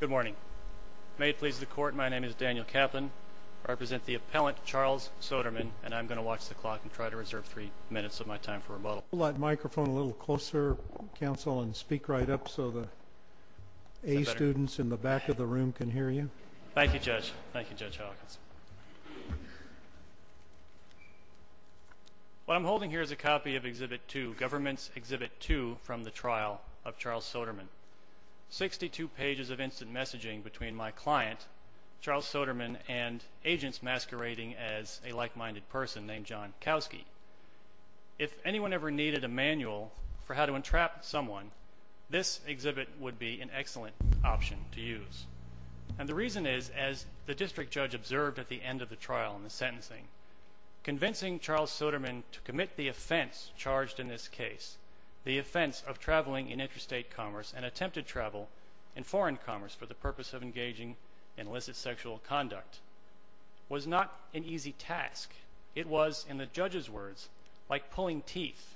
Good morning. May it please the court, my name is Daniel Kaplan. I represent the appellant, Charles Soderman, and I'm going to watch the clock and try to reserve three minutes of my time for rebuttal. Can you pull that microphone a little closer, counsel, and speak right up so the A students in the back of the room can hear you? Thank you, Judge. Thank you, Judge Hawkins. What I'm holding here is a copy of Exhibit 2, Government's Exhibit 2, from the trial of Charles Soderman. Sixty-two pages of instant messaging between my client, Charles Soderman, and agents masquerading as a like-minded person named John Kowski. If anyone ever needed a manual for how to entrap someone, this exhibit would be an excellent option to use. And the reason is, as the district judge observed at the end of the trial in the sentencing, convincing Charles Soderman to commit the offense charged in this case, the offense of traveling in interstate commerce and attempted travel in foreign commerce for the purpose of engaging in illicit sexual conduct, was not an easy task. It was, in the judge's words, like pulling teeth.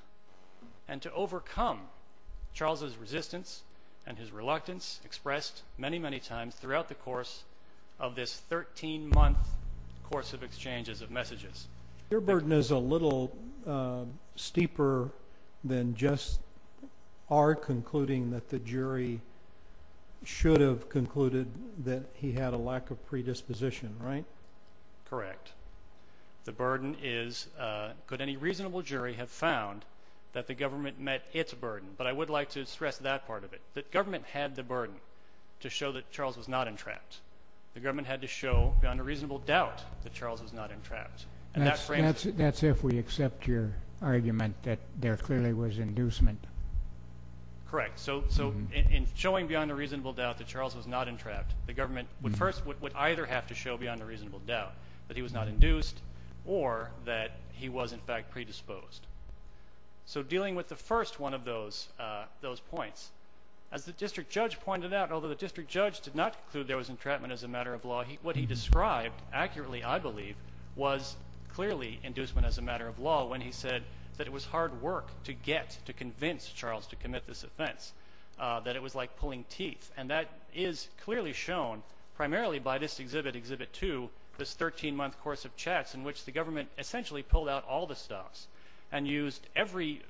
And to overcome Charles's resistance and his reluctance, expressed many, many times throughout the course of this 13-month course of exchanges of messages. Your burden is a little steeper than just our concluding that the jury should have concluded that he had a lack of predisposition, right? Correct. The burden is, could any reasonable jury have found that the government met its burden? But I would like to stress that part of it. The government had the burden to show that Charles was not entrapped. The government had to show, beyond a reasonable doubt, that Charles was not entrapped. That's if we accept your argument that there clearly was inducement. Correct. So in showing beyond a reasonable doubt that Charles was not entrapped, the government first would either have to show beyond a reasonable doubt that he was not induced or that he was, in fact, predisposed. So dealing with the first one of those points, as the district judge pointed out, although the district judge did not conclude there was entrapment as a matter of law, what he described accurately, I believe, was clearly inducement as a matter of law when he said that it was hard work to get to convince Charles to commit this offense, that it was like pulling teeth. And that is clearly shown primarily by this exhibit, Exhibit 2, this 13-month course of chats in which the government essentially pulled out all the stops and used every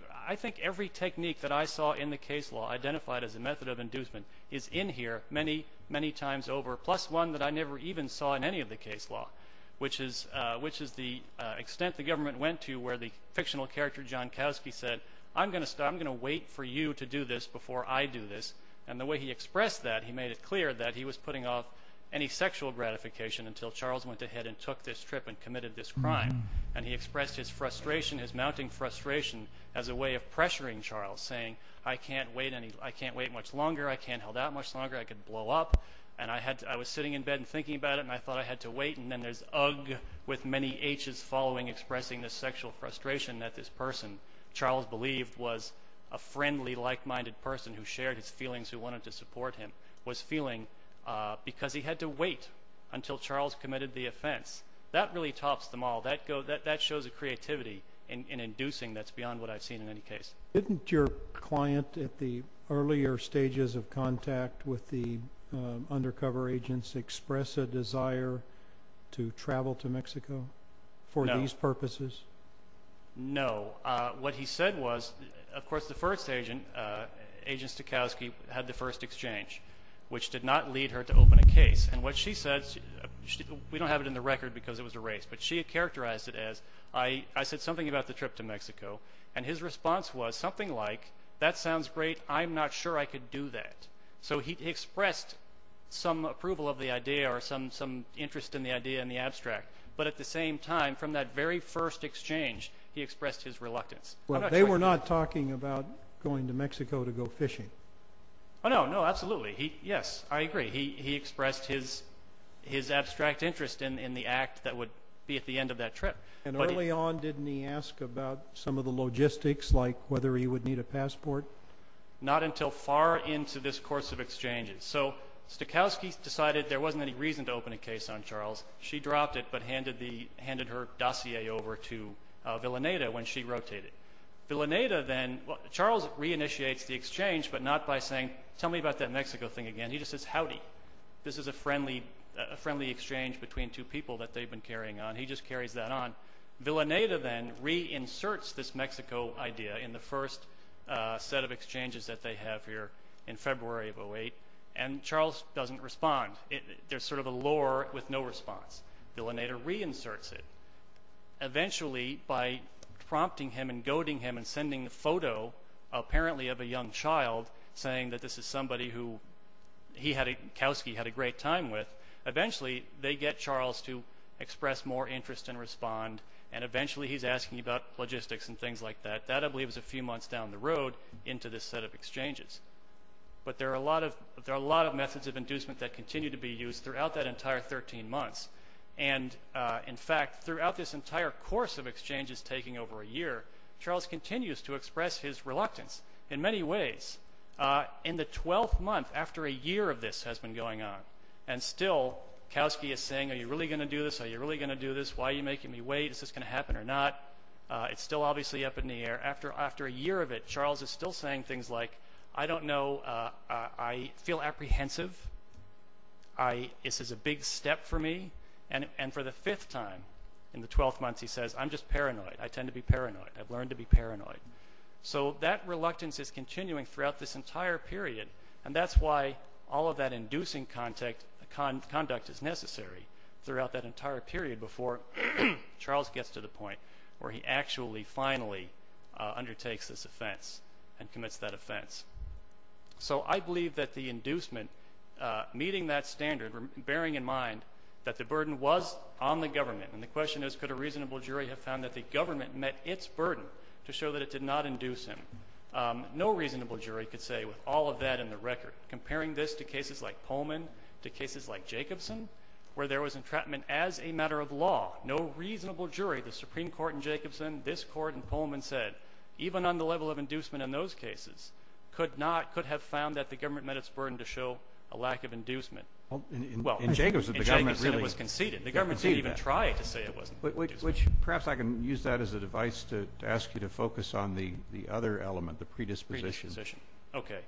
technique that I saw in the case law identified as a method of inducement, is in here many, many times over, plus one that I never even saw in any of the case law, which is the extent the government went to where the fictional character John Kowski said, I'm going to wait for you to do this before I do this. And the way he expressed that, he made it clear that he was putting off any sexual gratification until Charles went ahead and took this trip and committed this crime. And he expressed his mounting frustration as a way of pressuring Charles, saying, I can't wait much longer, I can't hold out much longer, I could blow up. And I was sitting in bed and thinking about it, and I thought I had to wait. And then there's Ugg, with many Hs following, expressing this sexual frustration that this person, Charles believed, was a friendly, like-minded person who shared his feelings, who wanted to support him, was feeling because he had to wait until Charles committed the offense. That really tops them all. That shows a creativity in inducing that's beyond what I've seen in any case. Didn't your client at the earlier stages of contact with the undercover agents express a desire to travel to Mexico? No. For these purposes? No. What he said was, of course, the first agent, Agent Stokowski, had the first exchange, which did not lead her to open a case. And what she said, we don't have it in the record because it was a race, but she had characterized it as, I said something about the trip to Mexico, and his response was something like, that sounds great, I'm not sure I could do that. So he expressed some approval of the idea or some interest in the idea in the abstract. But at the same time, from that very first exchange, he expressed his reluctance. Well, they were not talking about going to Mexico to go fishing. Oh, no, no, absolutely. Yes, I agree. He expressed his abstract interest in the act that would be at the end of that trip. And early on, didn't he ask about some of the logistics, like whether he would need a passport? Not until far into this course of exchanges. So Stokowski decided there wasn't any reason to open a case on Charles. She dropped it but handed her dossier over to Villaneta when she rotated. Villaneta then, Charles reinitiates the exchange, but not by saying, tell me about that Mexico thing again. He just says, howdy. This is a friendly exchange between two people that they've been carrying on. He just carries that on. Villaneta then reinserts this Mexico idea in the first set of exchanges that they have here in February of 2008, and Charles doesn't respond. There's sort of a lure with no response. Villaneta reinserts it. Eventually, by prompting him and goading him and sending a photo, apparently of a young child, saying that this is somebody who Stokowski had a great time with, eventually they get Charles to express more interest and respond, and eventually he's asking about logistics and things like that. That, I believe, is a few months down the road into this set of exchanges. But there are a lot of methods of inducement that continue to be used throughout that entire 13 months. And, in fact, throughout this entire course of exchanges taking over a year, Charles continues to express his reluctance in many ways. In the 12th month, after a year of this has been going on, and still Stokowski is saying, are you really going to do this? Are you really going to do this? Why are you making me wait? Is this going to happen or not? It's still obviously up in the air. After a year of it, Charles is still saying things like, I don't know. I feel apprehensive. This is a big step for me. And for the fifth time in the 12th month, he says, I'm just paranoid. I tend to be paranoid. I've learned to be paranoid. So that reluctance is continuing throughout this entire period, and that's why all of that inducing conduct is necessary throughout that entire period before Charles gets to the point where he actually finally undertakes this offense and commits that offense. So I believe that the inducement, meeting that standard, bearing in mind that the burden was on the government, and the question is could a reasonable jury have found that the government met its burden to show that it did not induce him. No reasonable jury could say with all of that in the record, comparing this to cases like Pullman, to cases like Jacobson, where there was entrapment as a matter of law. No reasonable jury, the Supreme Court in Jacobson, this court in Pullman said, even on the level of inducement in those cases, could have found that the government met its burden to show a lack of inducement. Well, in Jacobson it was conceded. The government didn't even try to say it wasn't. Perhaps I can use that as a device to ask you to focus on the other element, the predisposition. Okay.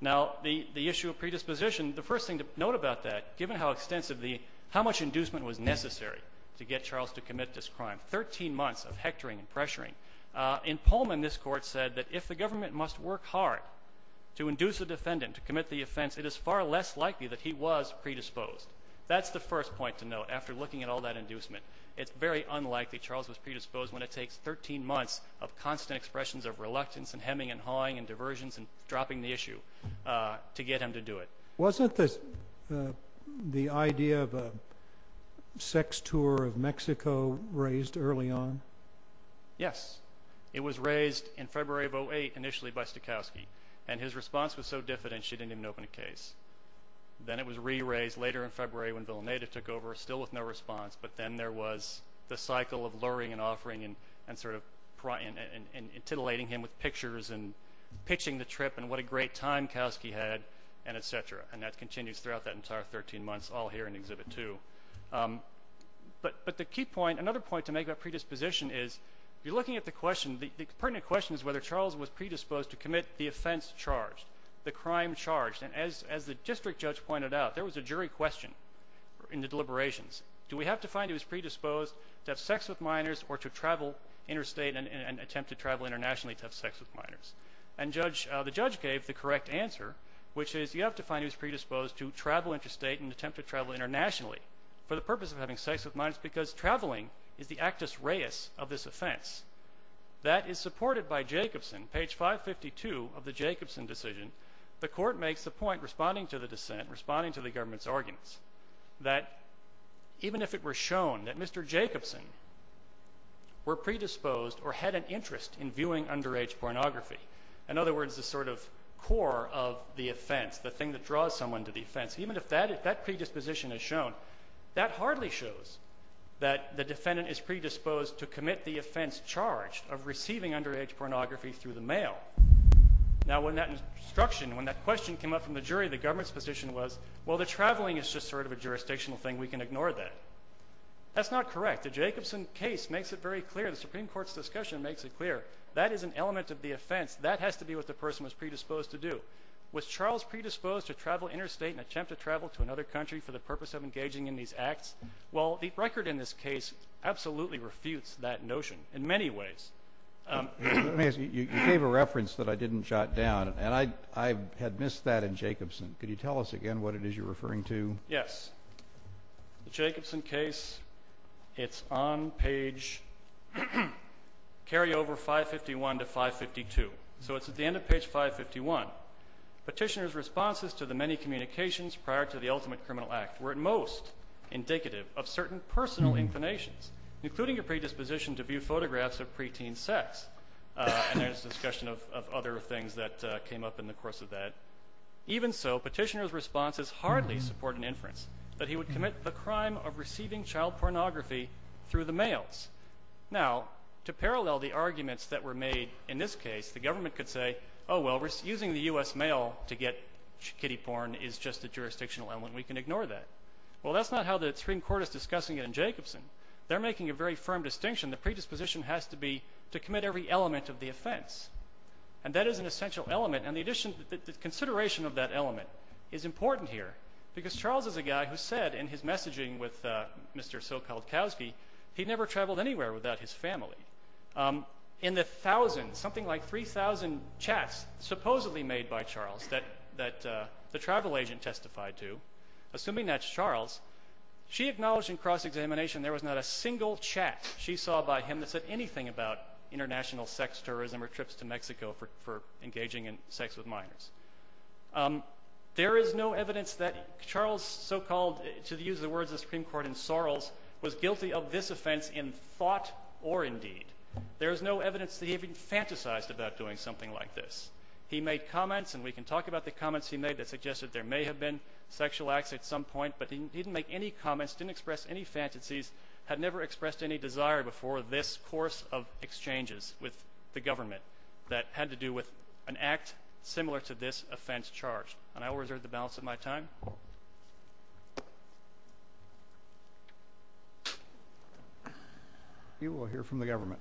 Now the issue of predisposition, the first thing to note about that, given how extensively, how much inducement was necessary to get Charles to commit this crime, 13 months of hectoring and pressuring, in Pullman this court said that if the government must work hard to induce a defendant, to commit the offense, it is far less likely that he was predisposed. That's the first point to note, after looking at all that inducement. It's very unlikely Charles was predisposed when it takes 13 months of constant expressions of reluctance and hemming and hawing and diversions and dropping the issue to get him to do it. Wasn't the idea of a sex tour of Mexico raised early on? Yes. It was raised in February of 08, initially by Stokowski, and his response was so diffident she didn't even open a case. Then it was re-raised later in February when Villaneta took over, still with no response, but then there was the cycle of luring and offering and sort of titillating him with pictures and pitching the trip and what a great time Kowski had and et cetera. And that continues throughout that entire 13 months, all here in Exhibit 2. But the key point, another point to make about predisposition is, you're looking at the question, the pertinent question is whether Charles was predisposed to commit the offense charged, the crime charged. And as the district judge pointed out, there was a jury question in the deliberations. Do we have to find he was predisposed to have sex with minors or to travel interstate and attempt to travel internationally to have sex with minors? And the judge gave the correct answer, which is you have to find he was predisposed to travel interstate and attempt to travel internationally for the purpose of having sex with minors because traveling is the actus reus of this offense. That is supported by Jacobson. The court makes the point, responding to the dissent, responding to the government's arguments, that even if it were shown that Mr. Jacobson were predisposed or had an interest in viewing underage pornography, in other words, the sort of core of the offense, the thing that draws someone to the offense, even if that predisposition is shown, that hardly shows that the defendant is predisposed to commit the offense charged of receiving underage pornography through the mail. Now, when that instruction, when that question came up from the jury, the government's position was, well, the traveling is just sort of a jurisdictional thing. We can ignore that. That's not correct. The Jacobson case makes it very clear. The Supreme Court's discussion makes it clear. That is an element of the offense. That has to be what the person was predisposed to do. Was Charles predisposed to travel interstate and attempt to travel to another country for the purpose of engaging in these acts? Well, the record in this case absolutely refutes that notion in many ways. You gave a reference that I didn't jot down, and I had missed that in Jacobson. Could you tell us again what it is you're referring to? Yes. The Jacobson case, it's on page carryover 551 to 552. So it's at the end of page 551. Petitioner's responses to the many communications prior to the ultimate criminal act were at most indicative of certain personal inclinations, including a predisposition to view photographs of preteen sex. And there's discussion of other things that came up in the course of that. Even so, petitioner's responses hardly support an inference that he would commit the crime of receiving child pornography through the mails. Now, to parallel the arguments that were made in this case, the government could say, oh, well, using the U.S. mail to get kiddie porn is just a jurisdictional element. We can ignore that. Well, that's not how the Supreme Court is discussing it in Jacobson. They're making a very firm distinction. The predisposition has to be to commit every element of the offense. And that is an essential element, and the consideration of that element is important here because Charles is a guy who said in his messaging with Mr. so-called Kowski he'd never traveled anywhere without his family. In the thousands, something like 3,000 chats supposedly made by Charles that the travel agent testified to, assuming that's Charles, she acknowledged in cross-examination there was not a single chat she saw by him that said anything about international sex tourism or trips to Mexico for engaging in sex with minors. There is no evidence that Charles so-called, to use the words of the Supreme Court in Sorrels, was guilty of this offense in thought or in deed. There is no evidence that he had been fantasized about doing something like this. He made comments, and we can talk about the comments he made that suggested there may have been sexual acts at some point, but he didn't make any comments, didn't express any fantasies, had never expressed any desire before this course of exchanges with the government that had to do with an act similar to this offense charged. And I will reserve the balance of my time. Thank you. You will hear from the government.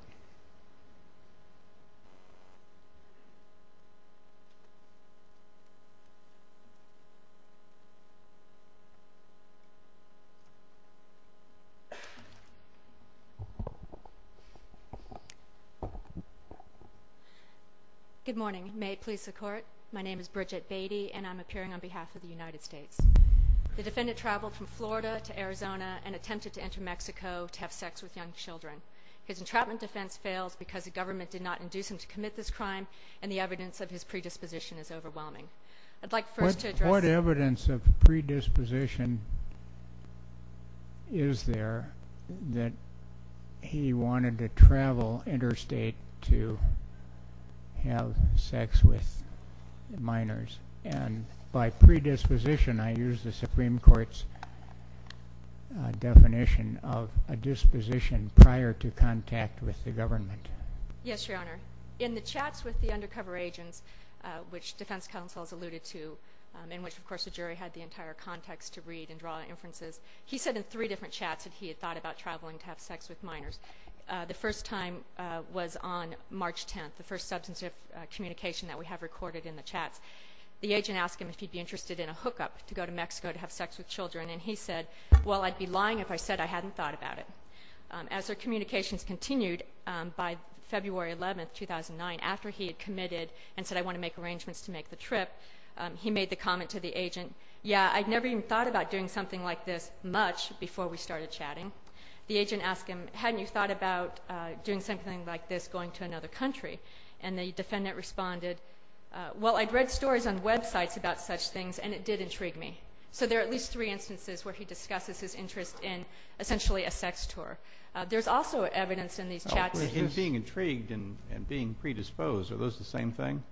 Good morning. May it please the Court. My name is Bridget Beattie, and I'm appearing on behalf of the United States. The defendant traveled from Florida to Arizona and attempted to enter Mexico to have sex with young children. His entrapment defense failed because the government did not induce him to commit this crime, and the evidence of his predisposition is overwhelming. I'd like first to address— is there that he wanted to travel interstate to have sex with minors, and by predisposition I use the Supreme Court's definition of a disposition prior to contact with the government. Yes, Your Honor. In the chats with the undercover agents, which defense counsel has alluded to, in which, of course, the jury had the entire context to read and draw inferences, he said in three different chats that he had thought about traveling to have sex with minors. The first time was on March 10th, the first substantive communication that we have recorded in the chats. The agent asked him if he'd be interested in a hookup to go to Mexico to have sex with children, and he said, well, I'd be lying if I said I hadn't thought about it. As their communications continued, by February 11th, 2009, after he had committed and said, I want to make arrangements to make the trip, he made the comment to the agent, yeah, I'd never even thought about doing something like this much before we started chatting. The agent asked him, hadn't you thought about doing something like this going to another country? And the defendant responded, well, I'd read stories on websites about such things, and it did intrigue me. So there are at least three instances where he discusses his interest in essentially a sex tour. There's also evidence in these chats— So being intrigued and being predisposed, are those the same thing?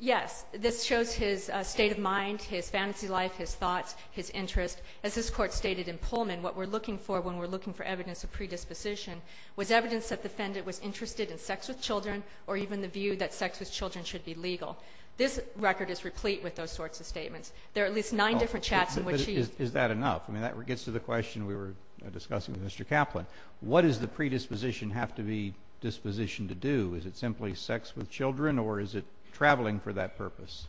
Yes. This shows his state of mind, his fantasy life, his thoughts, his interest. As this Court stated in Pullman, what we're looking for when we're looking for evidence of predisposition was evidence that the defendant was interested in sex with children or even the view that sex with children should be legal. This record is replete with those sorts of statements. There are at least nine different chats in which he— Is that enough? I mean, that gets to the question we were discussing with Mr. Kaplan. What does the predisposition have to be dispositioned to do? Is it simply sex with children, or is it traveling for that purpose?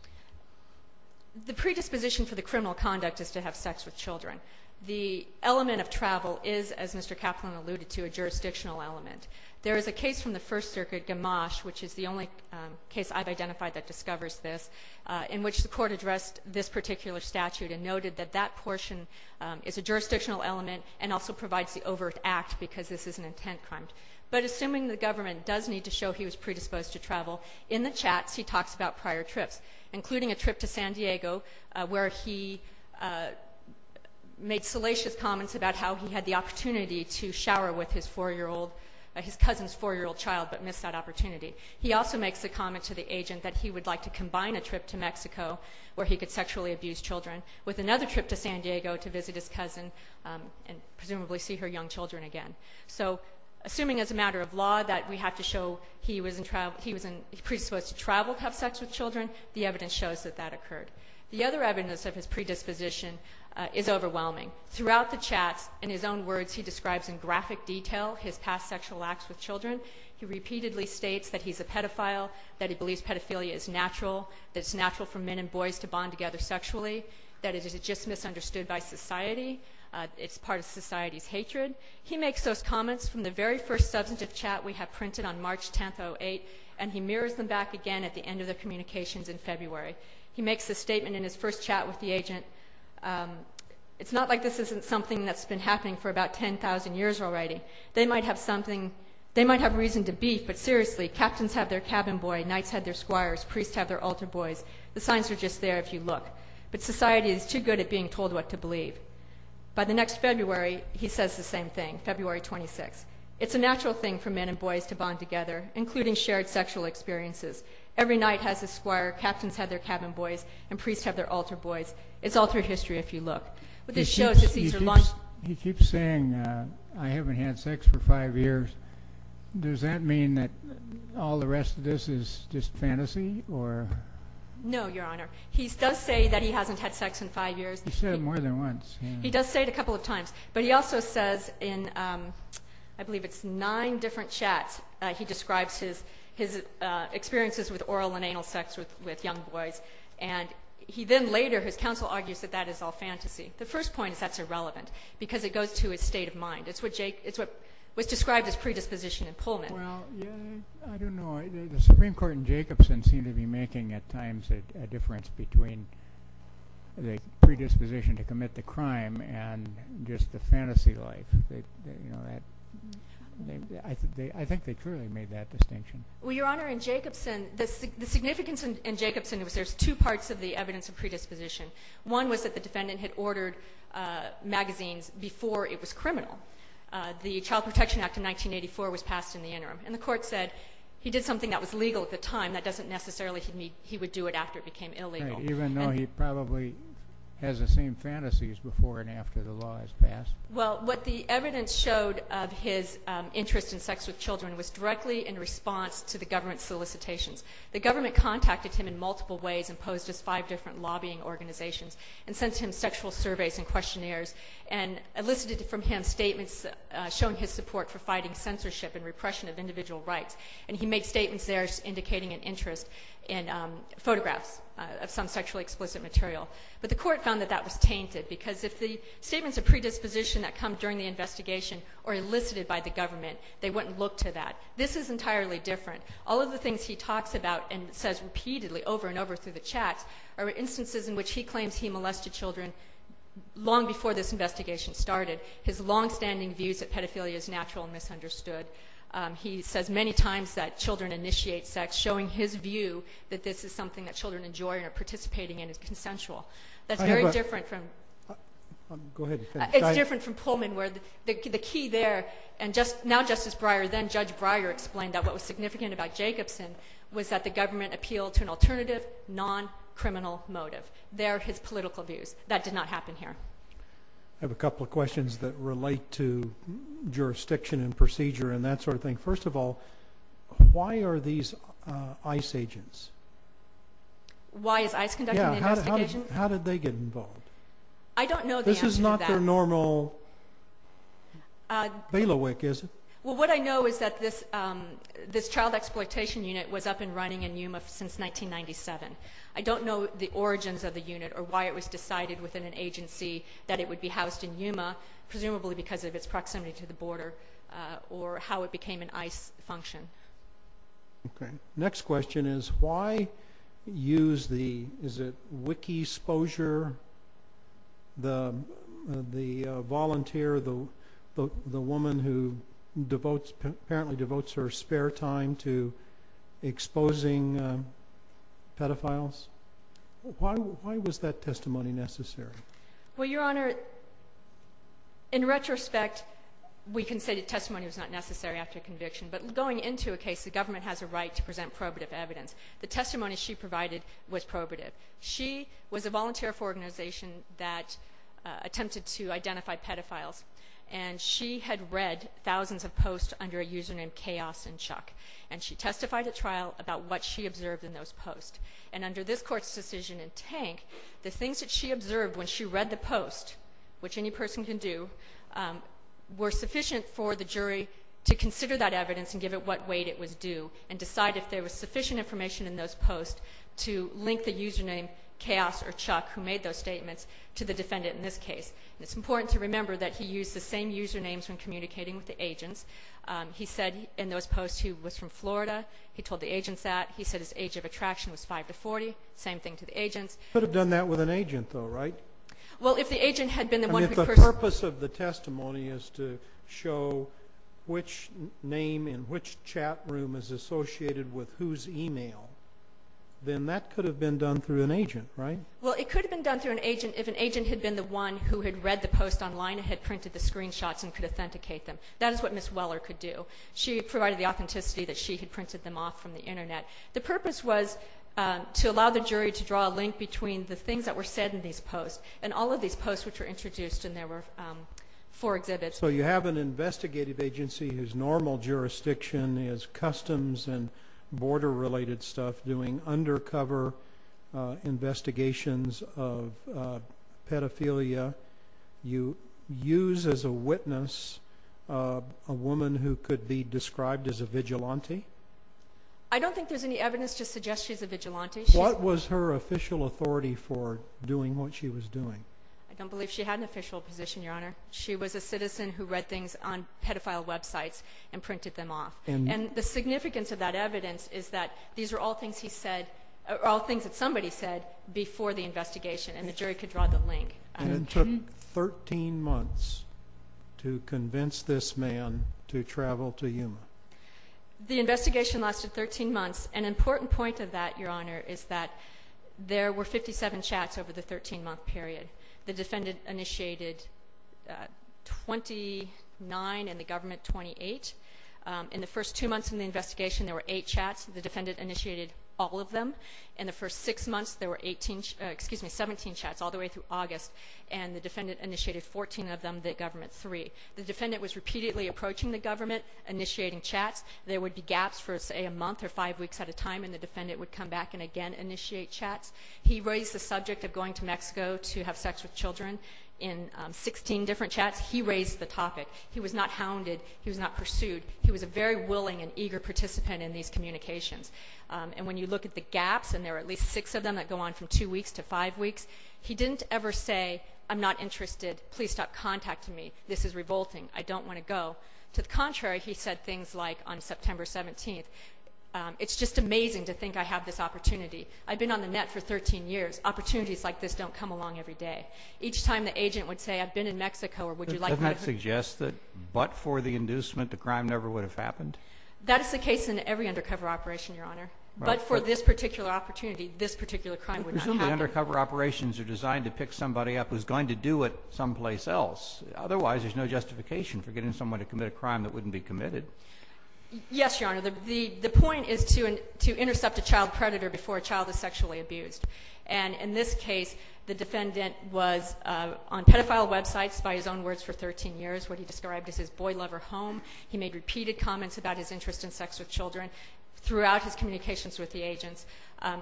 The predisposition for the criminal conduct is to have sex with children. The element of travel is, as Mr. Kaplan alluded to, a jurisdictional element. There is a case from the First Circuit, Gamache, which is the only case I've identified that discovers this, in which the Court addressed this particular statute and noted that that portion is a jurisdictional element and also provides the overt act because this is an intent crime. But assuming the government does need to show he was predisposed to travel, in the chats he talks about prior trips, including a trip to San Diego where he made salacious comments about how he had the opportunity to shower with his four-year-old— his cousin's four-year-old child, but missed that opportunity. He also makes a comment to the agent that he would like to combine a trip to Mexico where he could sexually abuse children with another trip to San Diego to visit his cousin and presumably see her young children again. So assuming as a matter of law that we have to show he was predisposed to travel to have sex with children, the evidence shows that that occurred. The other evidence of his predisposition is overwhelming. Throughout the chats, in his own words, he describes in graphic detail his past sexual acts with children. He repeatedly states that he's a pedophile, that he believes pedophilia is natural, for men and boys to bond together sexually, that it is just misunderstood by society. It's part of society's hatred. He makes those comments from the very first substantive chat we have printed on March 10th, 2008, and he mirrors them back again at the end of the communications in February. He makes a statement in his first chat with the agent, it's not like this isn't something that's been happening for about 10,000 years already. They might have something—they might have reason to beef, but seriously, captains have their cabin boy, knights have their squires, priests have their altar boys. The signs are just there if you look. But society is too good at being told what to believe. By the next February, he says the same thing, February 26th. It's a natural thing for men and boys to bond together, including shared sexual experiences. Every knight has his squire, captains have their cabin boys, and priests have their altar boys. It's altar history if you look. He keeps saying, I haven't had sex for five years. Does that mean that all the rest of this is just fantasy? No, Your Honor. He does say that he hasn't had sex in five years. He's said it more than once. He does say it a couple of times, but he also says in, I believe it's nine different chats, he describes his experiences with oral and anal sex with young boys. And he then later, his counsel argues that that is all fantasy. The first point is that's irrelevant because it goes to his state of mind. It's what was described as predisposition in Pullman. Well, I don't know. The Supreme Court in Jacobson seemed to be making at times a difference between the predisposition to commit the crime and just the fantasy life. I think they truly made that distinction. Well, Your Honor, in Jacobson, the significance in Jacobson was there's two parts of the evidence of predisposition. One was that the defendant had ordered magazines before it was criminal. The Child Protection Act of 1984 was passed in the interim, and the court said he did something that was legal at the time. That doesn't necessarily mean he would do it after it became illegal. Even though he probably has the same fantasies before and after the law is passed. Well, what the evidence showed of his interest in sex with children was directly in response to the government's solicitations. The government contacted him in multiple ways and posed as five different lobbying organizations and sent him sexual surveys and questionnaires and elicited from him statements showing his support for fighting censorship and repression of individual rights. And he made statements there indicating an interest in photographs of some sexually explicit material. But the court found that that was tainted, because if the statements of predisposition that come during the investigation are elicited by the government, they wouldn't look to that. This is entirely different. All of the things he talks about and says repeatedly over and over through the chats are instances in which he claims he molested children long before this investigation started. His longstanding views of pedophilia is natural and misunderstood. He says many times that children initiate sex, showing his view that this is something that children enjoy and are participating in is consensual. That's very different from Pullman, where the key there, and now Justice Breyer, then Judge Breyer explained that what was significant about Jacobson was that the government appealed to an alternative, non-criminal motive. There are his political views. That did not happen here. I have a couple of questions that relate to jurisdiction and procedure and that sort of thing. First of all, why are these ICE agents? Why is ICE conducting the investigation? How did they get involved? I don't know the answer to that. This is not their normal bailiwick, is it? Well, what I know is that this child exploitation unit was up and running in Yuma since 1997. I don't know the origins of the unit or why it was decided within an agency that it would be housed in Yuma, presumably because of its proximity to the border or how it became an ICE function. Okay. Next question is why use the, is it wiki-sposure, the volunteer, the woman who apparently devotes her spare time to exposing pedophiles? Why was that testimony necessary? Well, Your Honor, in retrospect, we can say the testimony was not necessary after conviction, but going into a case, the government has a right to present probative evidence. The testimony she provided was probative. She was a volunteer for an organization that attempted to identify pedophiles, and she had read thousands of posts under a user named Chaos and Chuck, and she testified at trial about what she observed in those posts. And under this Court's decision in Tank, the things that she observed when she read the post, which any person can do, were sufficient for the jury to consider that evidence and give it what weight it was due and decide if there was sufficient information in those posts to link the user named Chaos or Chuck who made those statements to the defendant in this case. It's important to remember that he used the same usernames when communicating with the agents. He said in those posts he was from Florida. He told the agents that. He said his age of attraction was 5 to 40. Same thing to the agents. He could have done that with an agent, though, right? Well, if the agent had been the one who personally... And if the purpose of the testimony is to show which name in which chat room is associated with whose email, then that could have been done through an agent, right? Well, it could have been done through an agent if an agent had been the one who had read the post online and had printed the screenshots and could authenticate them. That is what Ms. Weller could do. She provided the authenticity that she had printed them off from the Internet. The purpose was to allow the jury to draw a link between the things that were said in these posts and all of these posts which were introduced, and there were four exhibits. So you have an investigative agency whose normal jurisdiction is customs and border-related stuff, doing undercover investigations of pedophilia. You use as a witness a woman who could be described as a vigilante? I don't think there's any evidence to suggest she's a vigilante. What was her official authority for doing what she was doing? I don't believe she had an official position, Your Honor. She was a citizen who read things on pedophile websites and printed them off. And the significance of that evidence is that these are all things he said, before the investigation, and the jury could draw the link. And it took 13 months to convince this man to travel to Yuma? The investigation lasted 13 months. An important point of that, Your Honor, is that there were 57 chats over the 13-month period. The defendant initiated 29 and the government 28. In the first two months of the investigation, there were eight chats. The defendant initiated all of them. In the first six months, there were 17 chats, all the way through August. And the defendant initiated 14 of them, the government three. The defendant was repeatedly approaching the government, initiating chats. There would be gaps for, say, a month or five weeks at a time, and the defendant would come back and again initiate chats. He raised the subject of going to Mexico to have sex with children in 16 different chats. He raised the topic. He was not hounded. He was not pursued. He was a very willing and eager participant in these communications. And when you look at the gaps, and there were at least six of them that go on from two weeks to five weeks, he didn't ever say, I'm not interested. Please stop contacting me. This is revolting. I don't want to go. To the contrary, he said things like, on September 17th, it's just amazing to think I have this opportunity. I've been on the net for 13 years. Opportunities like this don't come along every day. Each time the agent would say, I've been in Mexico, or would you like me to? Doesn't that suggest that but for the inducement, the crime never would have happened? That is the case in every undercover operation, Your Honor. But for this particular opportunity, this particular crime would not happen. Presumably undercover operations are designed to pick somebody up who's going to do it someplace else. Otherwise, there's no justification for getting someone to commit a crime that wouldn't be committed. Yes, Your Honor. The point is to intercept a child predator before a child is sexually abused. And in this case, the defendant was on pedophile websites by his own words for 13 years. What he described as his boy lover home. He made repeated comments about his interest in sex with children throughout his communications with the agents.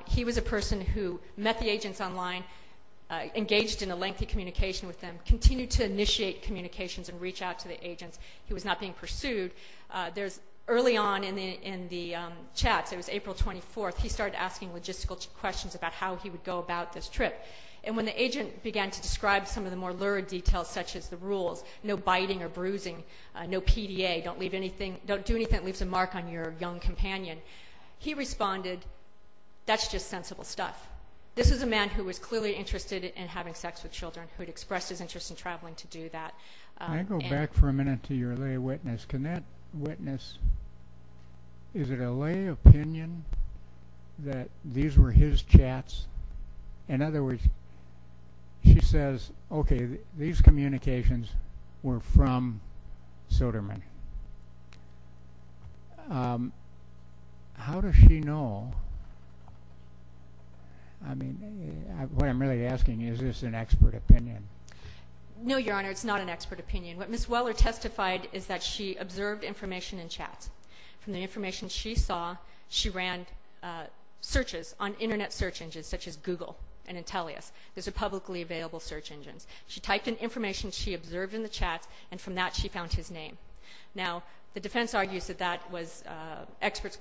He was a person who met the agents online, engaged in a lengthy communication with them, continued to initiate communications and reach out to the agents. He was not being pursued. Early on in the chats, it was April 24th, he started asking logistical questions about how he would go about this trip. And when the agent began to describe some of the more lurid details such as the rules, no biting or bruising, no PDA, don't do anything that leaves a mark on your young companion, he responded, that's just sensible stuff. This is a man who was clearly interested in having sex with children, who had expressed his interest in traveling to do that. Can I go back for a minute to your lay witness? Can that witness, is it a lay opinion that these were his chats? In other words, she says, okay, these communications were from Soderman. How does she know? I mean, what I'm really asking you, is this an expert opinion? No, Your Honor, it's not an expert opinion. What Ms. Weller testified is that she observed information in chats. From the information she saw, she ran searches on Internet search engines, such as Google and Intellius. Those are publicly available search engines. She typed in information she observed in the chats, and from that she found his name. Now, the defense argues that that was expert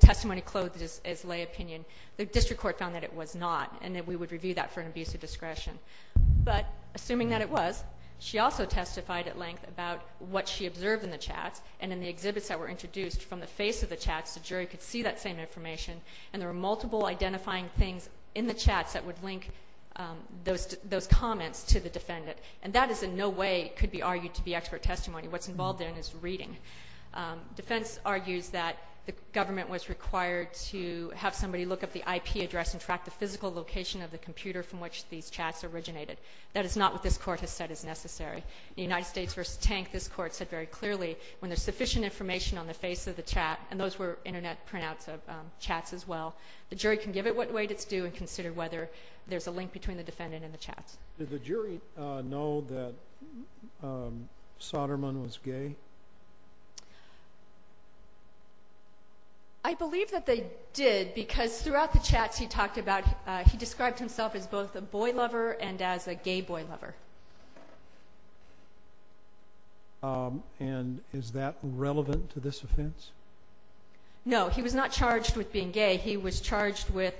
testimony clothed as lay opinion. The district court found that it was not, and that we would review that for an abuse of discretion. But assuming that it was, she also testified at length about what she observed in the chats, and in the exhibits that were introduced, from the face of the chats, the jury could see that same information, and there were multiple identifying things in the chats that would link those comments to the defendant. And that is in no way could be argued to be expert testimony. What's involved in it is reading. Defense argues that the government was required to have somebody look up the IP address and track the physical location of the computer from which these chats originated. That is not what this Court has said is necessary. In the United States v. Tank, this Court said very clearly, when there's sufficient information on the face of the chat, and those were Internet printouts of chats as well, the jury can give it what weight it's due and consider whether there's a link between the defendant and the chats. Did the jury know that Soderman was gay? I believe that they did, because throughout the chats he talked about, he described himself as both a boy lover and as a gay boy lover. And is that relevant to this offense? No, he was not charged with being gay. He was charged with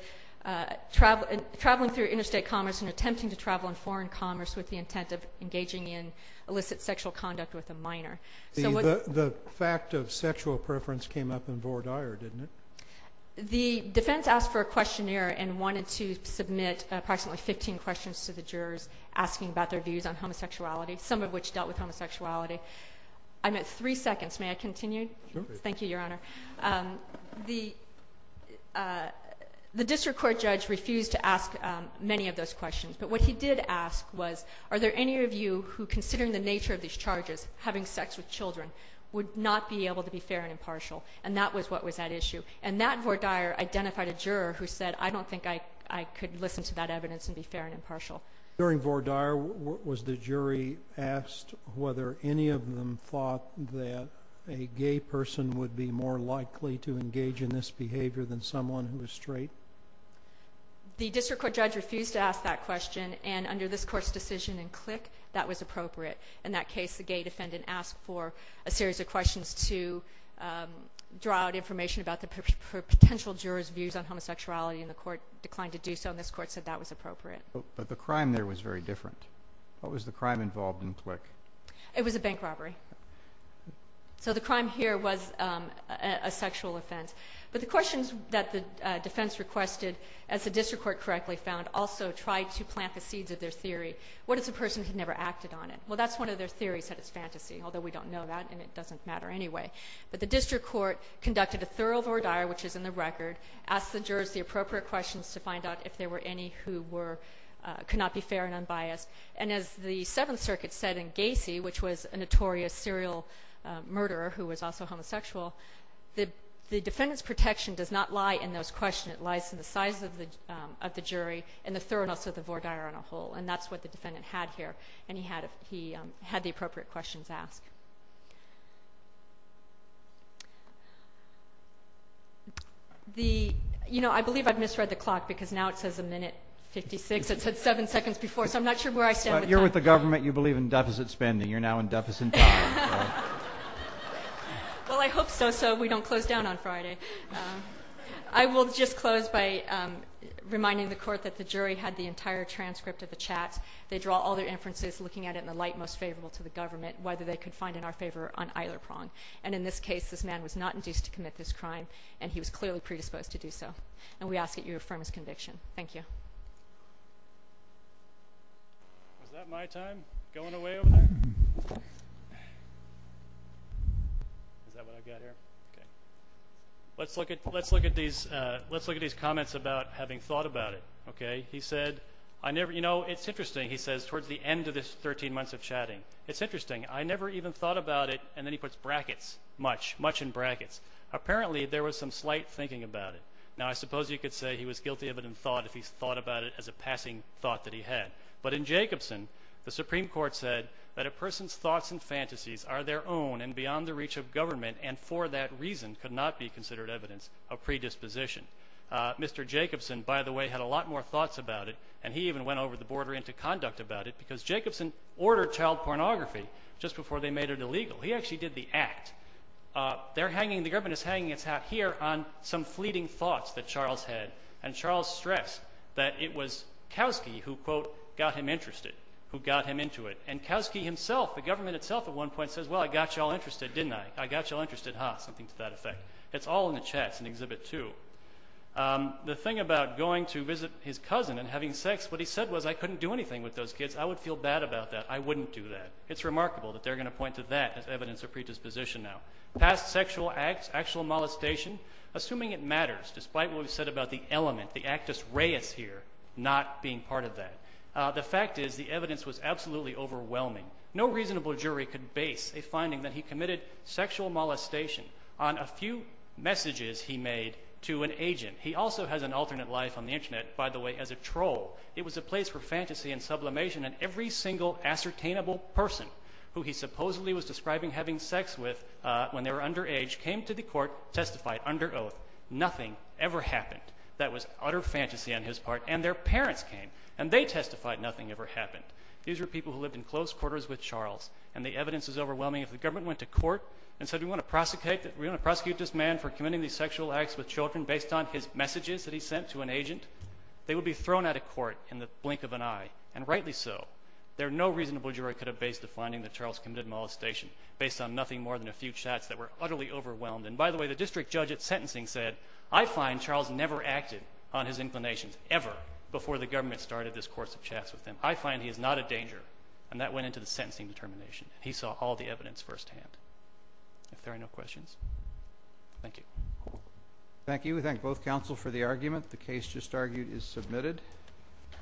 traveling through interstate commerce and attempting to travel in foreign commerce with the intent of engaging in illicit sexual conduct with a minor. The fact of sexual preference came up in Vore Dyer, didn't it? The defense asked for a questionnaire and wanted to submit approximately 15 questions to the jurors asking about their views on homosexuality, some of which dealt with homosexuality. I'm at three seconds. May I continue? Sure. Thank you, Your Honor. The district court judge refused to ask many of those questions, but what he did ask was, are there any of you who, considering the nature of these charges, having sex with children, would not be able to be fair and impartial? And that was what was at issue. And that Vore Dyer identified a juror who said, I don't think I could listen to that evidence and be fair and impartial. During Vore Dyer, was the jury asked whether any of them thought that a gay person would be more likely to engage in this behavior than someone who was straight? The district court judge refused to ask that question, and under this Court's decision in Click, that was appropriate. In that case, the gay defendant asked for a series of questions to draw out information about the potential jurors' views on homosexuality, and the Court declined to do so, and this Court said that was appropriate. But the crime there was very different. What was the crime involved in Click? It was a bank robbery. So the crime here was a sexual offense. But the questions that the defense requested, as the district court correctly found, also tried to plant the seeds of their theory. What if the person had never acted on it? Well, that's one of their theories, that it's fantasy, although we don't know that, and it doesn't matter anyway. But the district court conducted a thorough Vore Dyer, which is in the record, asked the jurors the appropriate questions to find out if there were any who could not be fair and unbiased. And as the Seventh Circuit said in Gacy, which was a notorious serial murderer who was also homosexual, the defendant's protection does not lie in those questions. It lies in the size of the jury and the thoroughness of the Vore Dyer on a whole, and that's what the defendant had here, and he had the appropriate questions asked. I believe I've misread the clock because now it says a minute 56. It said seven seconds before, so I'm not sure where I stand with that. You're with the government. You believe in deficit spending. You're now in deficit time. Well, I hope so, so we don't close down on Friday. I will just close by reminding the court that the jury had the entire transcript of the chat. They draw all their inferences, looking at it in the light most favorable to the government, whether they could find in our favor on either prong. And in this case, this man was not induced to commit this crime, and he was clearly predisposed to do so. And we ask that you affirm his conviction. Thank you. Was that my time going away over there? Is that what I've got here? Okay. Let's look at these comments about having thought about it. Okay. He said, you know, it's interesting, he says, towards the end of this 13 months of chatting. It's interesting. I never even thought about it, and then he puts brackets, much, much in brackets. Apparently, there was some slight thinking about it. Now, I suppose you could say he was guilty of it in thought if he thought about it as a passing thought that he had. But in Jacobson, the Supreme Court said that a person's thoughts and fantasies are their own and beyond the reach of government, and for that reason could not be considered evidence of predisposition. Mr. Jacobson, by the way, had a lot more thoughts about it, and he even went over the border into conduct about it, because Jacobson ordered child pornography just before they made it illegal. He actually did the act. The government is hanging its hat here on some fleeting thoughts that Charles had, and Charles stressed that it was Kowski who, quote, got him interested, who got him into it. And Kowski himself, the government itself at one point says, well, I got you all interested, didn't I? I got you all interested, huh? Something to that effect. It's all in the chats in Exhibit 2. The thing about going to visit his cousin and having sex, what he said was, I couldn't do anything with those kids. I would feel bad about that. I wouldn't do that. It's remarkable that they're going to point to that as evidence of predisposition now. Past sexual acts, actual molestation, assuming it matters, despite what we've said about the element, the actus reus here not being part of that. The fact is the evidence was absolutely overwhelming. No reasonable jury could base a finding that he committed sexual molestation on a few messages he made to an agent. He also has an alternate life on the Internet, by the way, as a troll. It was a place for fantasy and sublimation, and every single ascertainable person who he supposedly was describing having sex with when they were underage came to the court, testified under oath, nothing ever happened. That was utter fantasy on his part. And their parents came, and they testified nothing ever happened. These were people who lived in close quarters with Charles, and the evidence is overwhelming. If the government went to court and said we want to prosecute this man for committing these sexual acts with children based on his messages that he sent to an agent, they would be thrown out of court in the blink of an eye, and rightly so. There are no reasonable jury could have based a finding that Charles committed molestation based on nothing more than a few chats that were utterly overwhelmed. And by the way, the district judge at sentencing said, I find Charles never acted on his inclinations ever before the government started this course of chats with him. I find he is not a danger, and that went into the sentencing determination. He saw all the evidence firsthand. If there are no questions, thank you. Thank you. We thank both counsel for the argument. The case just argued is submitted.